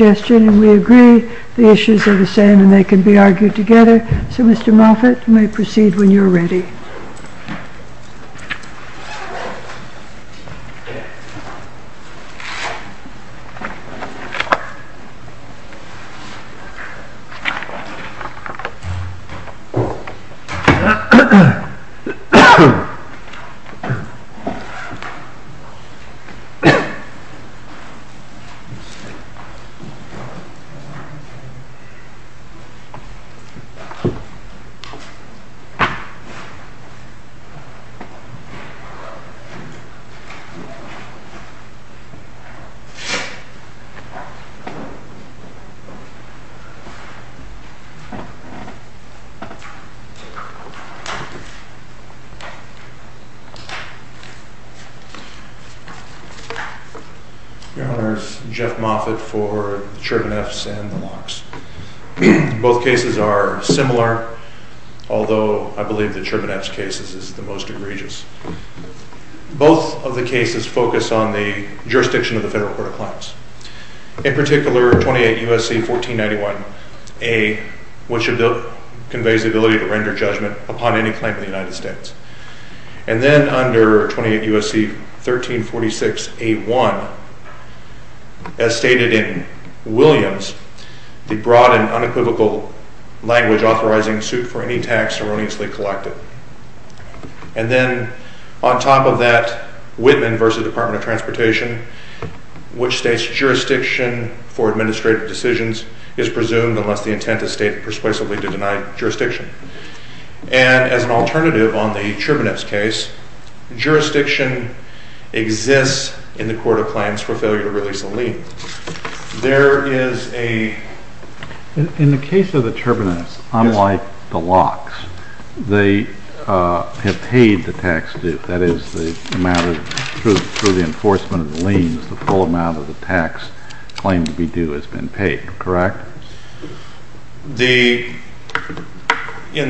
and we agree the issues are the same and they can be argued together. So Mr. Moffitt, you may proceed when you are ready. Your Honor, this is Jeff Moffitt for the U.S. Department of Justice. I'm going to start with the case of the Churbaneffs and the Longs. Both cases are similar, although I believe the Churbaneffs case is the most egregious. Both of the cases focus on the jurisdiction of the Federal Court of Claims. In particular, 28 U.S.C. 1491a, which conveys the ability to render judgment upon any claim in the United States. And then under 28 U.S.C. 1346a1, as stated in Williams, the broad and unequivocal language authorizing suit for any tax erroneously collected. And then on top of that, Whitman v. Department of Transportation, which states jurisdiction for administrative decisions is presumed unless the intent is stated persuasively to deny jurisdiction. And as an alternative on the Churbaneffs case, jurisdiction exists in the Court of Claims for failure to release a lien. There is a... In the case of the Churbaneffs, unlike the Longs, they have paid the tax due. That is, through the enforcement of the liens, the full amount of the tax claim to be due has been paid, correct? In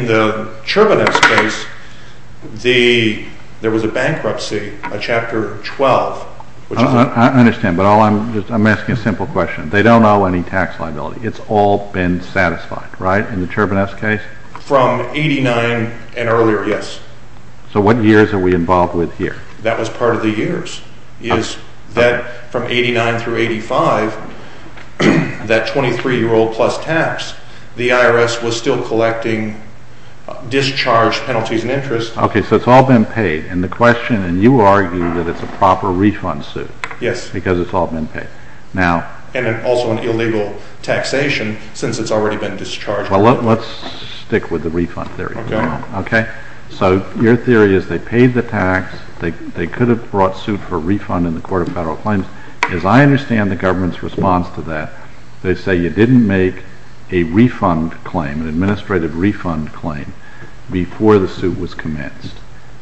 the Churbaneffs case, there was a bankruptcy, a Chapter 12. I understand, but I'm asking a simple question. They don't owe any tax liability. It's all been satisfied, right, in the Churbaneffs case? From 89 and earlier, yes. So what years are we involved with here? That was part of the years, is that from 89 through 85, that 23-year-old plus tax, the IRS was still collecting discharge penalties and interest. Okay, so it's all been paid. And the question, and you argue that it's a proper refund suit. Yes. Because it's all been paid. And also an illegal taxation, since it's already been discharged. Okay. Okay, so your theory is they paid the tax, they could have brought suit for refund in the Court of Federal Claims. As I understand the government's response to that, they say you didn't make a refund claim, an administrative refund claim, before the suit was commenced.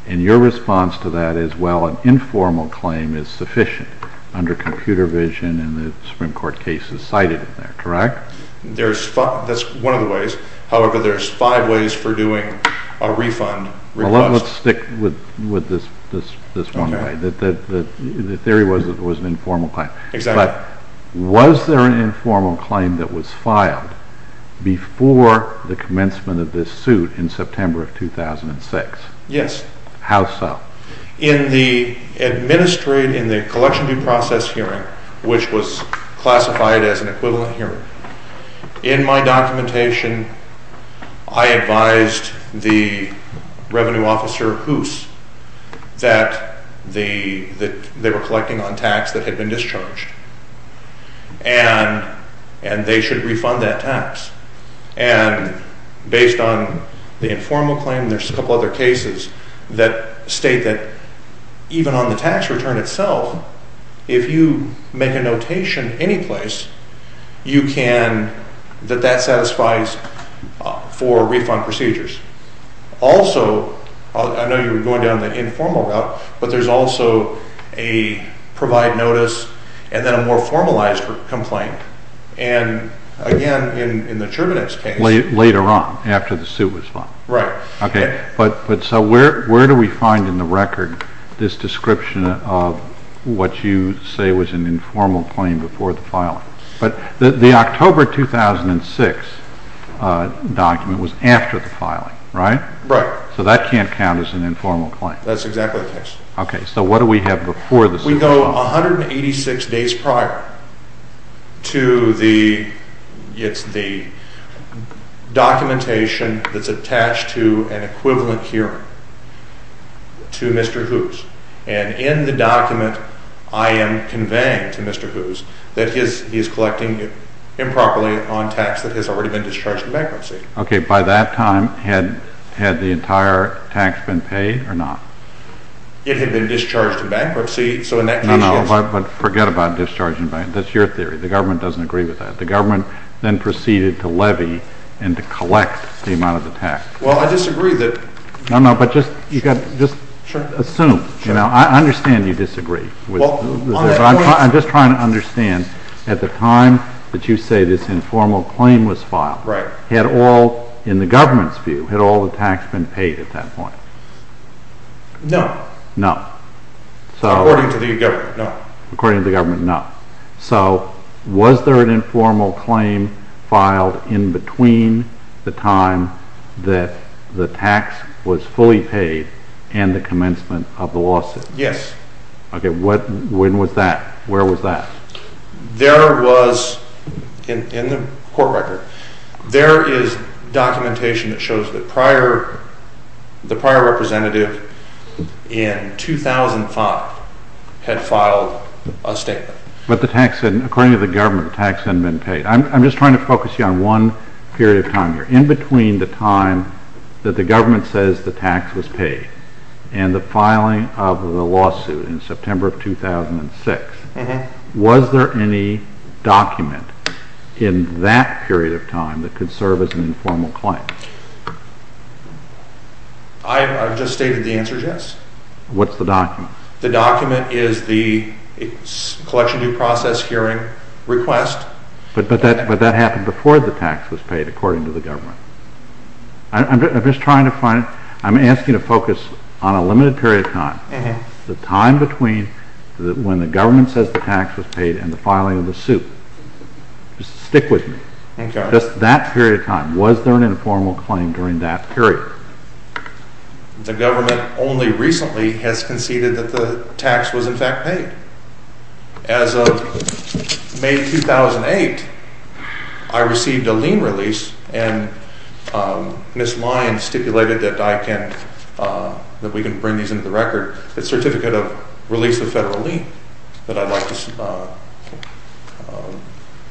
And your response to that is, well, an informal claim is sufficient under computer vision and the Supreme Court cases cited in there, correct? That's one of the ways. However, there's five ways for doing a refund. Well, let's stick with this one way. The theory was it was an informal claim. Exactly. But was there an informal claim that was filed before the commencement of this suit in September of 2006? Yes. How so? In the administrative, in the collection due process hearing, which was classified as an equivalent hearing, in my documentation I advised the revenue officer, Hoos, that they were collecting on tax that had been discharged, and they should refund that tax. And based on the informal claim, there's a couple other cases that state that even on the tax return itself, if you make a notation anyplace, you can, that that satisfies for refund procedures. Also, I know you were going down the informal route, but there's also a provide notice and then a more formalized complaint. And again, in the Terminix case... Later on, after the suit was filed. Right. Okay, but so where do we find in the record this description of what you say was an informal claim before the filing? But the October 2006 document was after the filing, right? Right. So that can't count as an informal claim. That's exactly the case. Okay, so what do we have before the... We go 186 days prior to the documentation that's attached to an equivalent hearing to Mr. Hoos. And in the document, I am conveying to Mr. Hoos that he is collecting improperly on tax that has already been discharged in bankruptcy. Okay, by that time, had the entire tax been paid or not? It had been discharged in bankruptcy, so in that case, yes. No, no, but forget about discharging bankruptcy. That's your theory. The government doesn't agree with that. The government then proceeded to levy and to collect the amount of the tax. Well, I disagree that... No, no, but just assume. I understand you disagree. I'm just trying to understand, at the time that you say this informal claim was filed, had all, in the government's view, had all the tax been paid at that point? No. No. According to the government, no. According to the government, no. So, was there an informal claim filed in between the time that the tax was fully paid and the commencement of the lawsuit? Yes. Okay, when was that? Where was that? There was, in the court record, there is documentation that shows that the prior representative in 2005 had filed a statement. But the tax hadn't, according to the government, the tax hadn't been paid. I'm just trying to focus you on one period of time here. In between the time that the government says the tax was paid and the filing of the lawsuit in September of 2006, was there any document in that period of time that could serve as an informal claim? I've just stated the answer is yes. What's the document? The document is the collection due process hearing request. But that happened before the tax was paid, according to the government. I'm just trying to find, I'm asking to focus on a limited period of time. The time between when the government says the tax was paid and the filing of the suit. Just stick with me. Okay. Just that period of time. Was there an informal claim during that period? The government only recently has conceded that the tax was in fact paid. As of May 2008, I received a lien release and Ms. Lyons stipulated that I can, that we can bring these into the record. It's a certificate of release of federal lien that I'd like to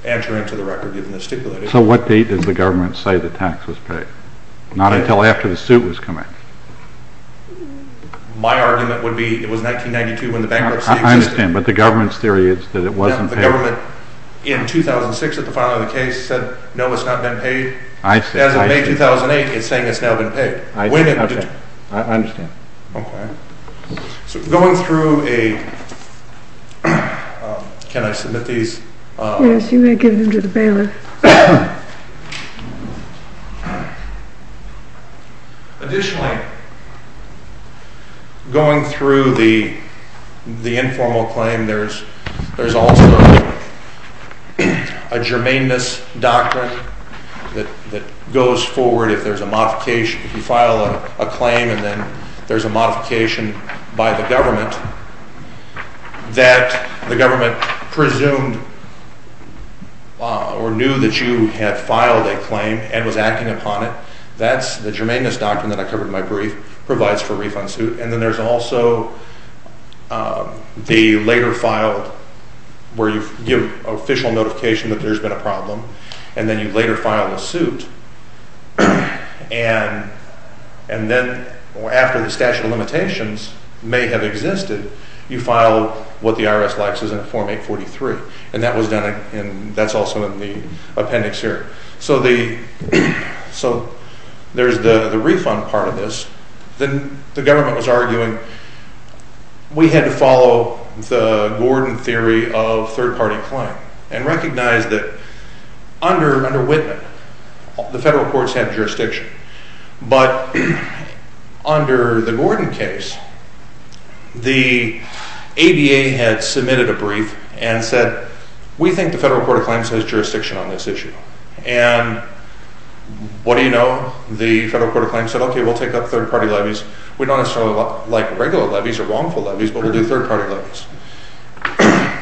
enter into the record given the stipulation. So what date does the government say the tax was paid? Not until after the suit was committed. My argument would be it was 1992 when the bankruptcy existed. I understand. But the government's theory is that it wasn't paid. The government in 2006 at the filing of the case said no, it's not been paid. I see. As of May 2008, it's saying it's now been paid. I see. Okay. I understand. Okay. So going through a, can I submit these? Yes, you may give them to the bailiff. Okay. Additionally, going through the informal claim, there's also a germane-ness doctrine that goes forward if there's a modification. If you file a claim and then there's a modification by the government that the government presumed or knew that you had filed a claim and was acting upon it, that's the germane-ness doctrine that I covered in my brief provides for refund suit. And then there's also the later filed where you give official notification that there's been a problem, and then you later file a suit, and then after the statute of limitations may have existed, you file what the IRS likes is in Form 843. And that was done, and that's also in the appendix here. So there's the refund part of this. Then the government was arguing we had to follow the Gordon theory of third-party claim and recognize that under Whitman, the federal courts have jurisdiction. But under the Gordon case, the ADA had submitted a brief and said, we think the federal court of claims has jurisdiction on this issue. And what do you know? The federal court of claims said, okay, we'll take up third-party levies. We don't necessarily like regular levies or wrongful levies, but we'll do third-party levies.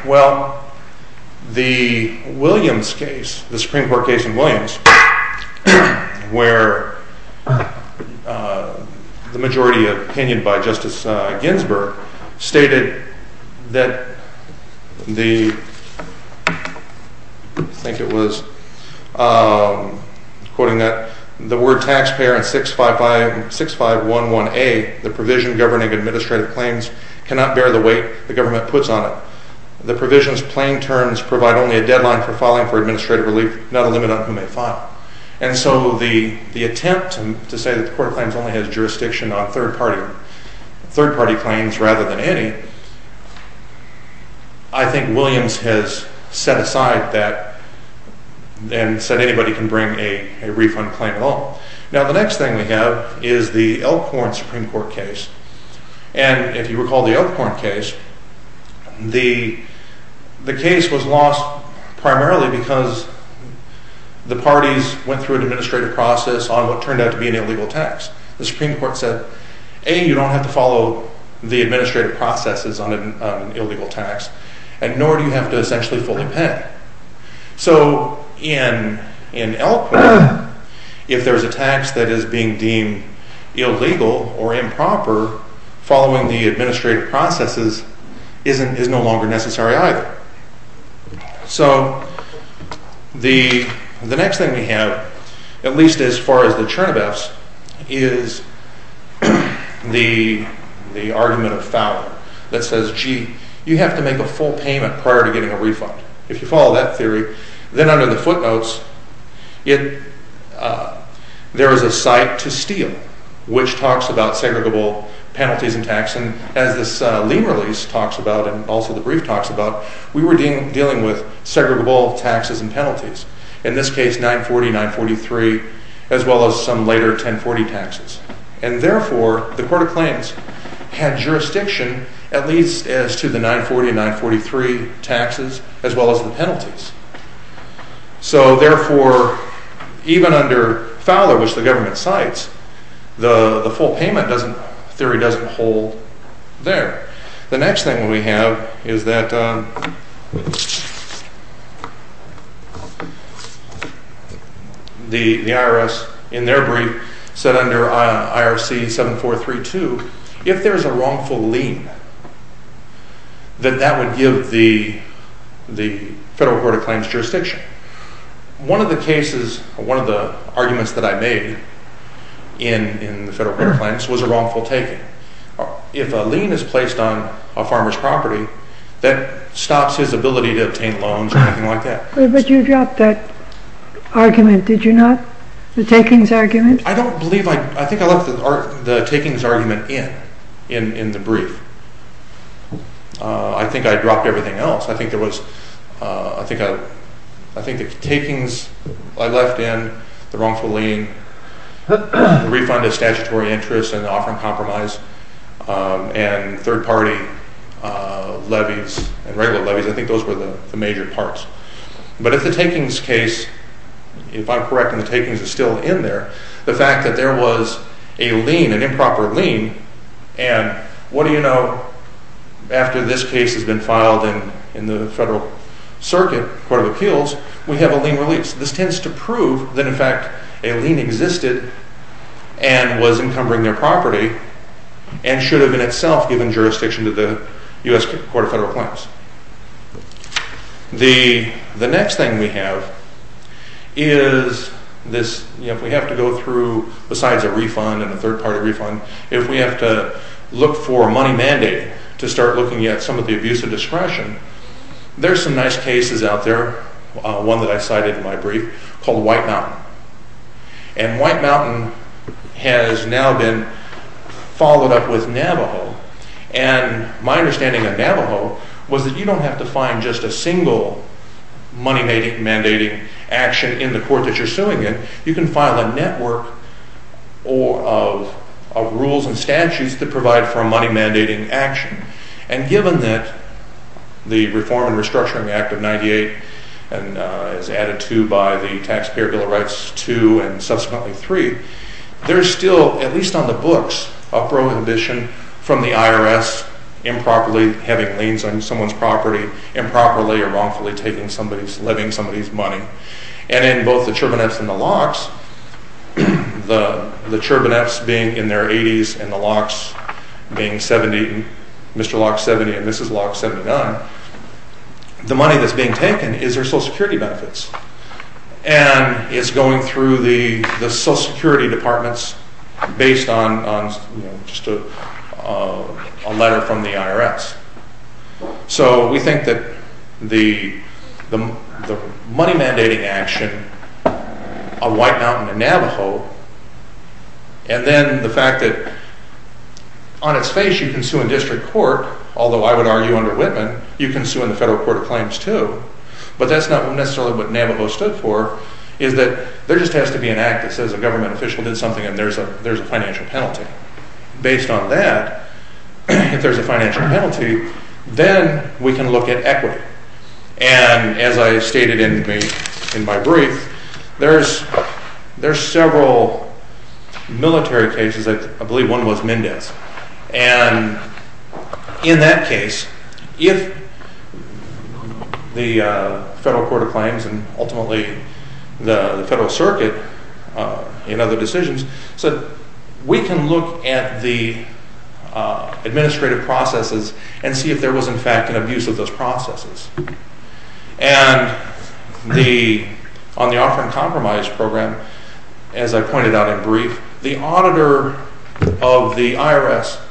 Well, the Williams case, the Supreme Court case in Williams, where the majority opinion by Justice Ginsburg stated that the, I think it was, quoting that, the word taxpayer in 6511A, the provision governing administrative claims, cannot bear the weight the government puts on it. The provision's plain terms provide only a deadline for filing for administrative relief, not a limit on who may file. And so the attempt to say that the court of claims only has jurisdiction on third-party claims rather than any, I think Williams has set aside that and said anybody can bring a refund claim at all. Now, the next thing we have is the Elkhorn Supreme Court case. And if you recall the Elkhorn case, the case was lost primarily because the parties went through an administrative process on what turned out to be an illegal tax. The Supreme Court said, A, you don't have to follow the administrative processes on an illegal tax, and nor do you have to essentially fully pay. So in Elkhorn, if there's a tax that is being deemed illegal or improper, following the administrative processes is no longer necessary either. So the next thing we have, at least as far as the Chernobyfs, is the argument of Fowler that says, G, you have to make a full payment prior to getting a refund. If you follow that theory, then under the footnotes, there is a cite to Steele, which talks about segregable penalties and tax. And as this lien release talks about and also the brief talks about, we were dealing with segregable taxes and penalties. In this case, 940, 943, as well as some later 1040 taxes. And therefore, the court of claims had jurisdiction at least as to the 940 and 943 taxes as well as the penalties. So therefore, even under Fowler, which the government cites, the full payment theory doesn't hold there. The next thing we have is that the IRS, in their brief, said under IRC 7432, if there is a wrongful lien, that that would give the federal court of claims jurisdiction. One of the cases, one of the arguments that I made in the federal court of claims was a wrongful taking. If a lien is placed on a farmer's property, that stops his ability to obtain loans or anything like that. But you dropped that argument, did you not? The takings argument? I don't believe, I think I left the takings argument in, in the brief. I think I dropped everything else. I think there was, I think the takings I left in, the wrongful lien, the refund of statutory interest and offering compromise, and third-party levies and regular levies. I think those were the major parts. But if the takings case, if I'm correct and the takings is still in there, the fact that there was a lien, an improper lien, and what do you know, after this case has been filed in the federal circuit, court of appeals, we have a lien release. This tends to prove that in fact a lien existed and was encumbering their property and should have in itself given jurisdiction to the U.S. court of federal claims. The next thing we have is this, if we have to go through, besides a refund and a third-party refund, if we have to look for a money mandate to start looking at some of the abuse of discretion, there's some nice cases out there, one that I cited in my brief, called White Mountain. And White Mountain has now been followed up with Navajo. And my understanding of Navajo was that you don't have to find just a single money mandating action in the court that you're suing in, you can file a network of rules and statutes that provide for a money mandating action. And given that the Reform and Restructuring Act of 98 is added to by the Taxpayer Bill of Rights 2 and subsequently 3, there's still, at least on the books, a prohibition from the IRS improperly having liens on someone's property, improperly or wrongfully taking somebody's living, somebody's money. And in both the Churbanev's and the Locke's, the Churbanev's being in their 80s and the Locke's being 70, Mr. Locke's 70 and Mrs. Locke's 79, the money that's being taken is their Social Security benefits. And it's going through the Social Security departments based on just a letter from the IRS. So we think that the money mandating action of White Mountain and Navajo, and then the fact that on its face you can sue in district court, although I would argue under Whitman, you can sue in the federal court of claims too. But that's not necessarily what Navajo stood for, is that there just has to be an act that says a government official did something and there's a financial penalty. Based on that, if there's a financial penalty, then we can look at equity. And as I stated in my brief, there's several military cases, I believe one was Mendez. And in that case, if the federal court of claims and ultimately the federal circuit in other decisions, so we can look at the administrative processes and see if there was in fact an abuse of those processes. And on the offer and compromise program, as I pointed out in brief, the auditor of the IRS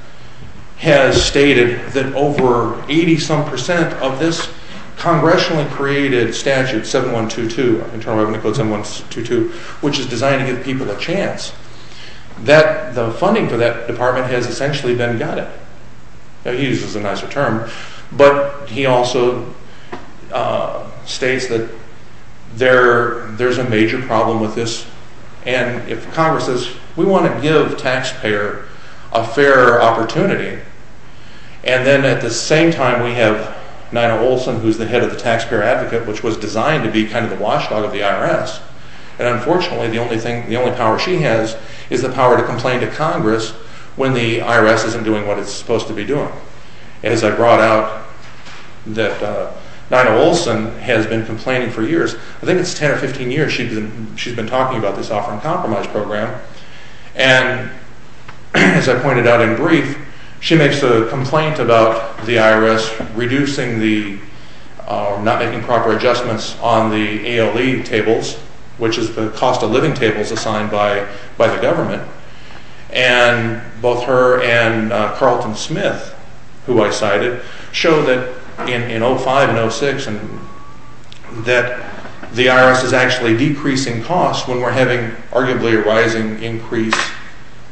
has stated that over 80 some percent of this congressionally created statute 7122, Internal Revenue Code 7122, which is designed to give people a chance, that the funding for that department has essentially been gutted. He uses a nicer term, but he also states that there's a major problem with this and if Congress says, we want to give the taxpayer a fair opportunity, and then at the same time we have Nina Olson, who's the head of the taxpayer advocate, which was designed to be kind of the watchdog of the IRS. And unfortunately, the only power she has is the power to complain to Congress when the IRS isn't doing what it's supposed to be doing. And as I brought out, that Nina Olson has been complaining for years. I think it's 10 or 15 years she's been talking about this offer and compromise program. And as I pointed out in brief, she makes a complaint about the IRS reducing the, not making proper adjustments on the ALE tables, which is the cost of living tables assigned by the government. And both her and Carlton Smith, who I cited, show that in 05 and 06, that the IRS is actually decreasing costs when we're having arguably a rising increase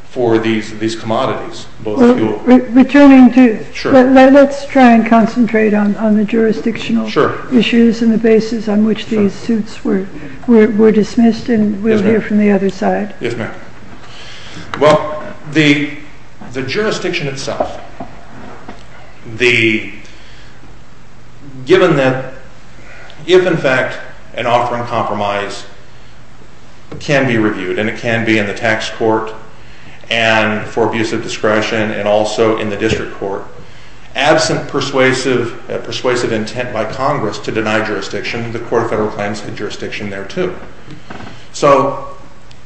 for these commodities. Returning to, let's try and concentrate on the jurisdictional issues and the basis on which these suits were dismissed, and we'll hear from the other side. Well, the jurisdiction itself, given that if in fact an offer and compromise can be reviewed, and it can be in the tax court and for abuse of discretion and also in the district court, absent persuasive intent by Congress to deny jurisdiction, the Court of Federal Claims had jurisdiction there too. So,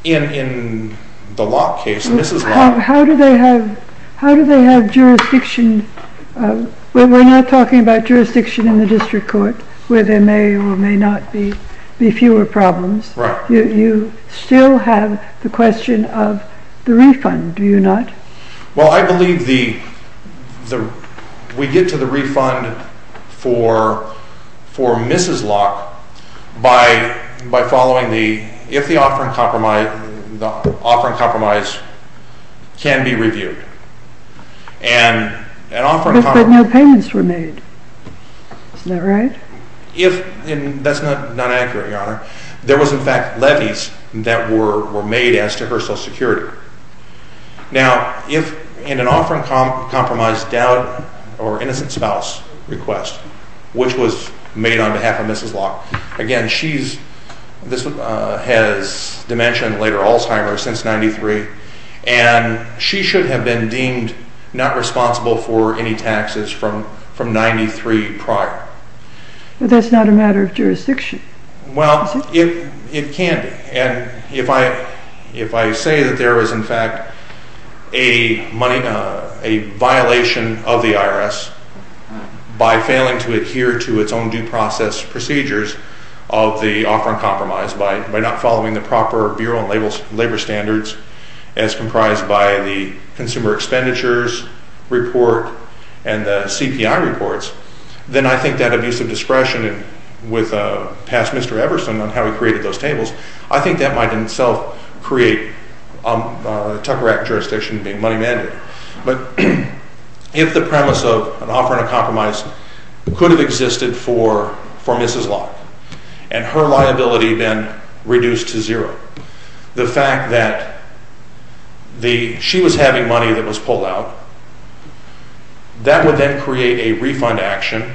in the Locke case, and this is Locke. How do they have jurisdiction? We're not talking about jurisdiction in the district court, where there may or may not be fewer problems. You still have the question of the refund, do you not? Well, I believe we get to the refund for Mrs. Locke by following the, if the offer and compromise can be reviewed. But no payments were made. Isn't that right? That's not accurate, Your Honor. There was in fact levies that were made as to her Social Security. Now, if in an offer and compromise doubt or innocent spouse request, which was made on behalf of Mrs. Locke, again, she's, this has dimension later Alzheimer's since 93, and she should have been deemed not responsible for any taxes from 93 prior. But that's not a matter of jurisdiction. Well, it can be. And if I say that there is in fact a violation of the IRS by failing to adhere to its own due process procedures of the offer and compromise by not following the proper Bureau and labor standards as comprised by the consumer expenditures report and the CPI reports, then I think that abuse of discretion with past Mr. Everson on how he created those tables, I think that might in itself create a Tucker Act jurisdiction being money mandated. But if the premise of an offer and a compromise could have existed for Mrs. Locke and her liability then reduced to zero, the fact that the, she was having money that was pulled out, that would then create a refund action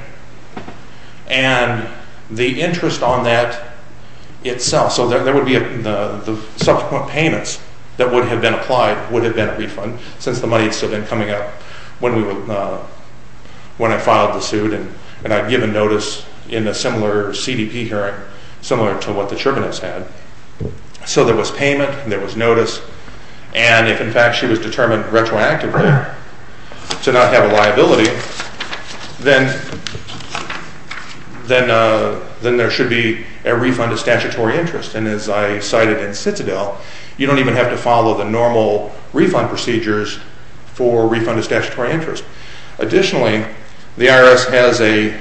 and the interest on that itself, so there would be the subsequent payments that would have been applied would have been a refund since the money had still been coming out when we were, when I filed the suit and I'd given notice in a similar CDP hearing, similar to what the Churbinets had. So there was payment, there was notice, and if in fact she was determined retroactively to not have a liability, then there should be a refund of statutory interest. And as I cited in Citadel, you don't even have to follow the normal refund procedures for refund of statutory interest. Additionally, the IRS has a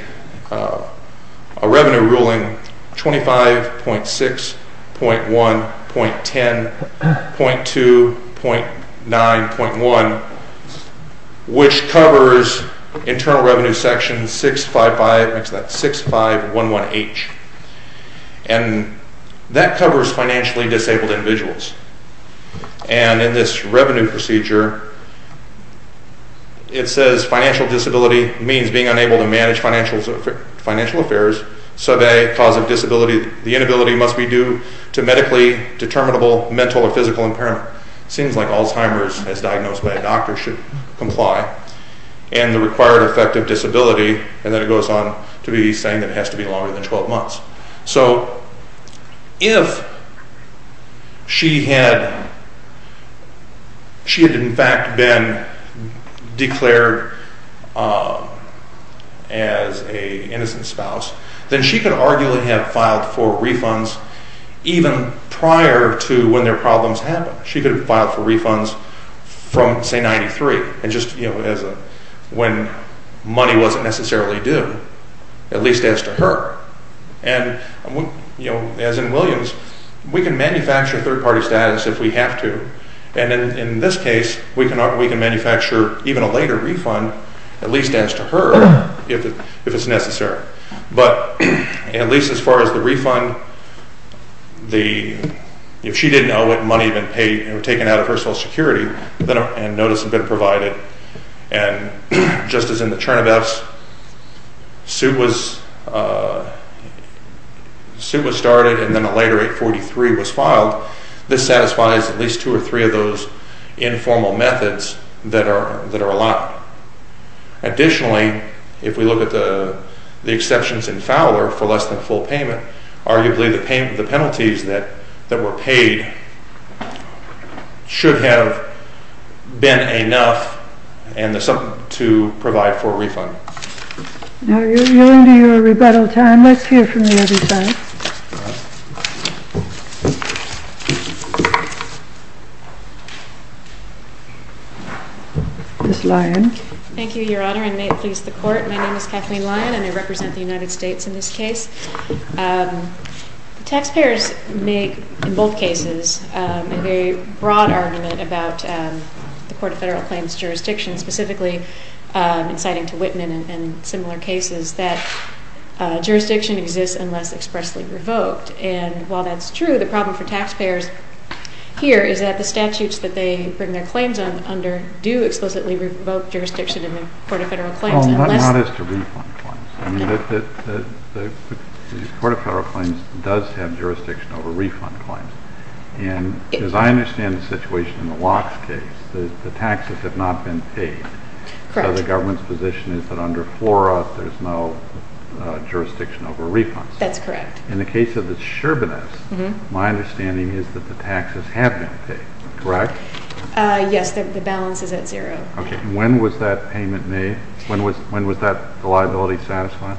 revenue ruling 25.6.1.10.2.9.1, which covers Internal Revenue Section 655, 6511H. And that covers financially disabled individuals. And in this revenue procedure, it says financial disability means being unable to manage financial affairs, Sub-A cause of disability, the inability must be due to medically determinable mental or physical impairment. It seems like Alzheimer's, as diagnosed by a doctor, should comply. And the required effect of disability, and then it goes on to be saying that it has to be longer than 12 months. So if she had, she had in fact been declared as an innocent spouse, then she could arguably have filed for refunds even prior to when their problems happened. She could have filed for refunds from, say, 93, when money wasn't necessarily due, at least as to her. And as in Williams, we can manufacture third-party status if we have to. And in this case, we can manufacture even a later refund, at least as to her, if it's necessary. But at least as far as the refund, if she didn't know what money had been paid, or taken out of her Social Security, and notice had been provided, and just as in the Chernivets, suit was started and then a later 843 was filed. This satisfies at least two or three of those informal methods that are allowed. Additionally, if we look at the exceptions in Fowler for less than full payment, arguably the penalties that were paid should have been enough to provide for a refund. Now, you're into your rebuttal time. Let's hear from the other side. Ms. Lyon. Thank you, Your Honor, and may it please the Court. My name is Kathleen Lyon, and I represent the United States in this case. Taxpayers make, in both cases, a very broad argument about the Court of Federal Claims jurisdiction, specifically inciting to Whitman and similar cases, that jurisdiction exists unless expressly revoked. And while that's true, the problem for taxpayers here is that the statutes that they bring their claims under do explicitly revoke jurisdiction in the Court of Federal Claims. Oh, not as to refund claims. I mean, the Court of Federal Claims does have jurisdiction over refund claims. And as I understand the situation in the Lox case, the taxes have not been paid. Correct. So the government's position is that under FLORA there's no jurisdiction over refunds. That's correct. In the case of the Sherbinettes, my understanding is that the taxes have been paid, correct? Yes, the balance is at zero. Okay, and when was that payment made? When was that liability satisfied?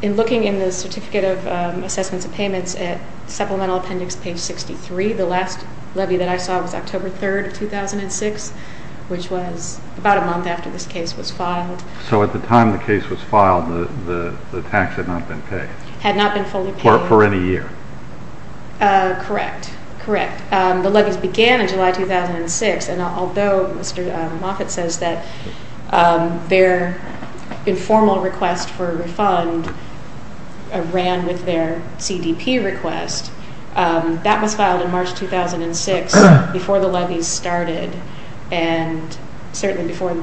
In looking in the Certificate of Assessments of Payments at Supplemental Appendix Page 63, the last levy that I saw was October 3, 2006, which was about a month after this case was filed. So at the time the case was filed, the tax had not been paid? Had not been fully paid. For any year? Correct, correct. The levies began in July 2006. And although Mr. Moffitt says that their informal request for a refund ran with their CDP request, that was filed in March 2006 before the levies started and certainly before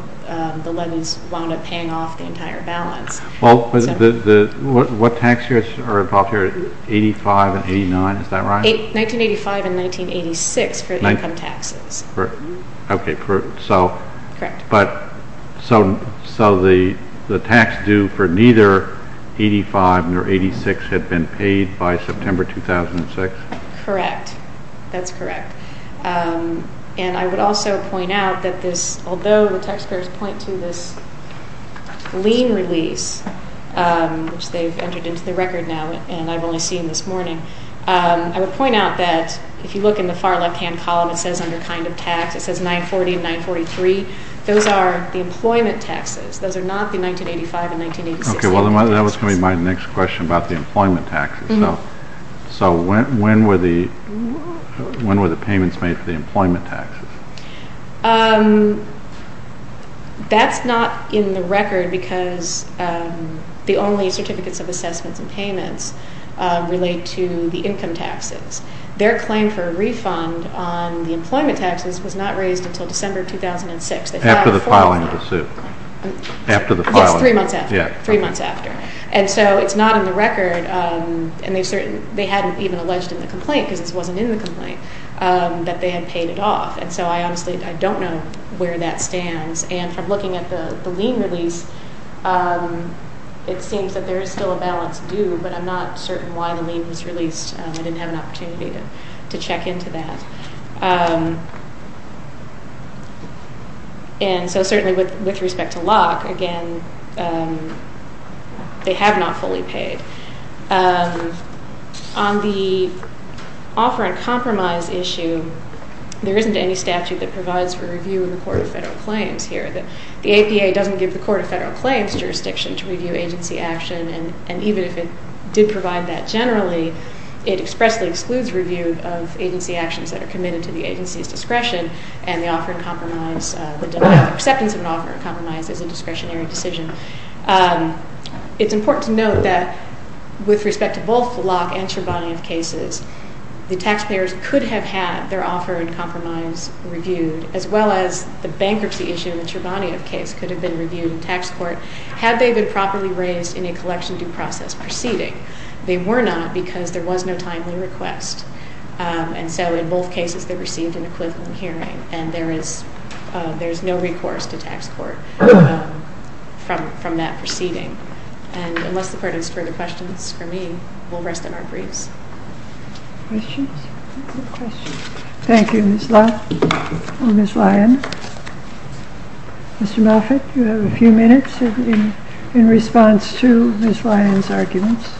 the levies wound up paying off the entire balance. Well, what tax years are involved here? 85 and 89, is that right? 1985 and 1986 for the income taxes. Okay, so the tax due for neither 85 nor 86 had been paid by September 2006? Correct, that's correct. And I would also point out that although the taxpayers point to this lien release, which they've entered into the record now and I've only seen this morning, I would point out that if you look in the far left-hand column it says under kind of tax, it says 940 and 943, those are the employment taxes. Those are not the 1985 and 1986. Okay, well that was going to be my next question about the employment taxes. So when were the payments made for the employment taxes? That's not in the record because the only certificates of assessments and payments relate to the income taxes. Their claim for a refund on the employment taxes was not raised until December 2006. After the filing of the suit. Yes, three months after. And so it's not in the record and they hadn't even alleged in the complaint, because this wasn't in the complaint, that they had paid it off. And so I honestly don't know where that stands. And from looking at the lien release, it seems that there is still a balance due, but I'm not certain why the lien was released. I didn't have an opportunity to check into that. And so certainly with respect to LOC, again, they have not fully paid. On the offer and compromise issue, there isn't any statute that provides for review in the Court of Federal Claims here. The APA doesn't give the Court of Federal Claims jurisdiction to review agency action, and even if it did provide that generally, it expressly excludes review of agency actions that are committed to the agency's discretion, and the offer and compromise, the acceptance of an offer and compromise is a discretionary decision. It's important to note that with respect to both LOC and Churbanioff cases, the taxpayers could have had their offer and compromise reviewed, as well as the bankruptcy issue in the Churbanioff case could have been reviewed in tax court had they been properly raised in a collection due process proceeding. They were not because there was no timely request. And so in both cases, they received an equivalent hearing, and there is no recourse to tax court from that proceeding. And unless the Court has further questions for me, we'll rest in our briefs. Questions? Thank you, Ms. Lott or Ms. Lyon. Mr. Moffitt, you have a few minutes in response to Ms. Lyon's arguments.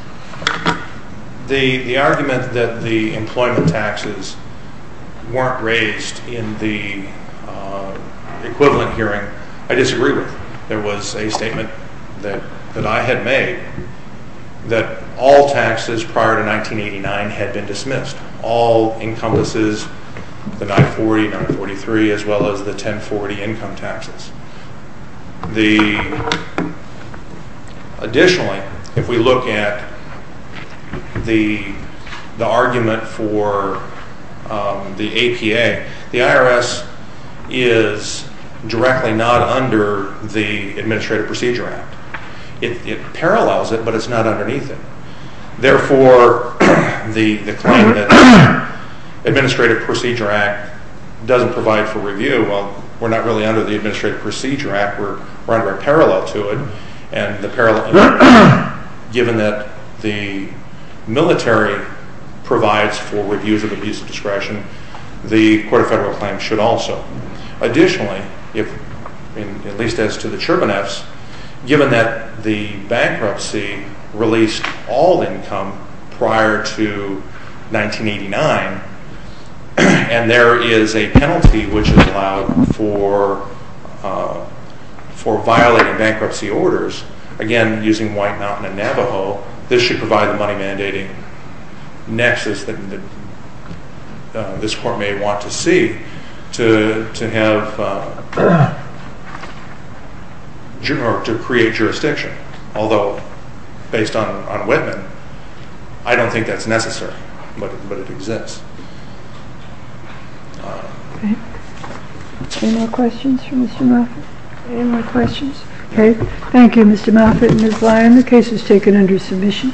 The argument that the employment taxes weren't raised in the equivalent hearing, I disagree with. There was a statement that I had made that all taxes prior to 1989 had been dismissed. All encompasses the 940, 943, as well as the 1040 income taxes. Additionally, if we look at the argument for the APA, the IRS is directly not under the Administrative Procedure Act. It parallels it, but it's not underneath it. Therefore, the claim that the Administrative Procedure Act doesn't provide for review, well, we're not really under the Administrative Procedure Act. We're under a parallel to it. And given that the military provides for reviews of abuse of discretion, the Court of Federal Claims should also. Additionally, at least as to the Churbaneffs, given that the bankruptcy released all income prior to 1989, and there is a penalty which is allowed for violating bankruptcy orders, again, using White Mountain and Navajo, this should provide the money mandating nexus that this Court may want to see to create jurisdiction. Although, based on Whitman, I don't think that's necessary. But it exists. All right. Okay. Any more questions for Mr. Moffitt? Any more questions? Okay. Thank you, Mr. Moffitt and Ms. Lyon. The case is taken under submission. All rise.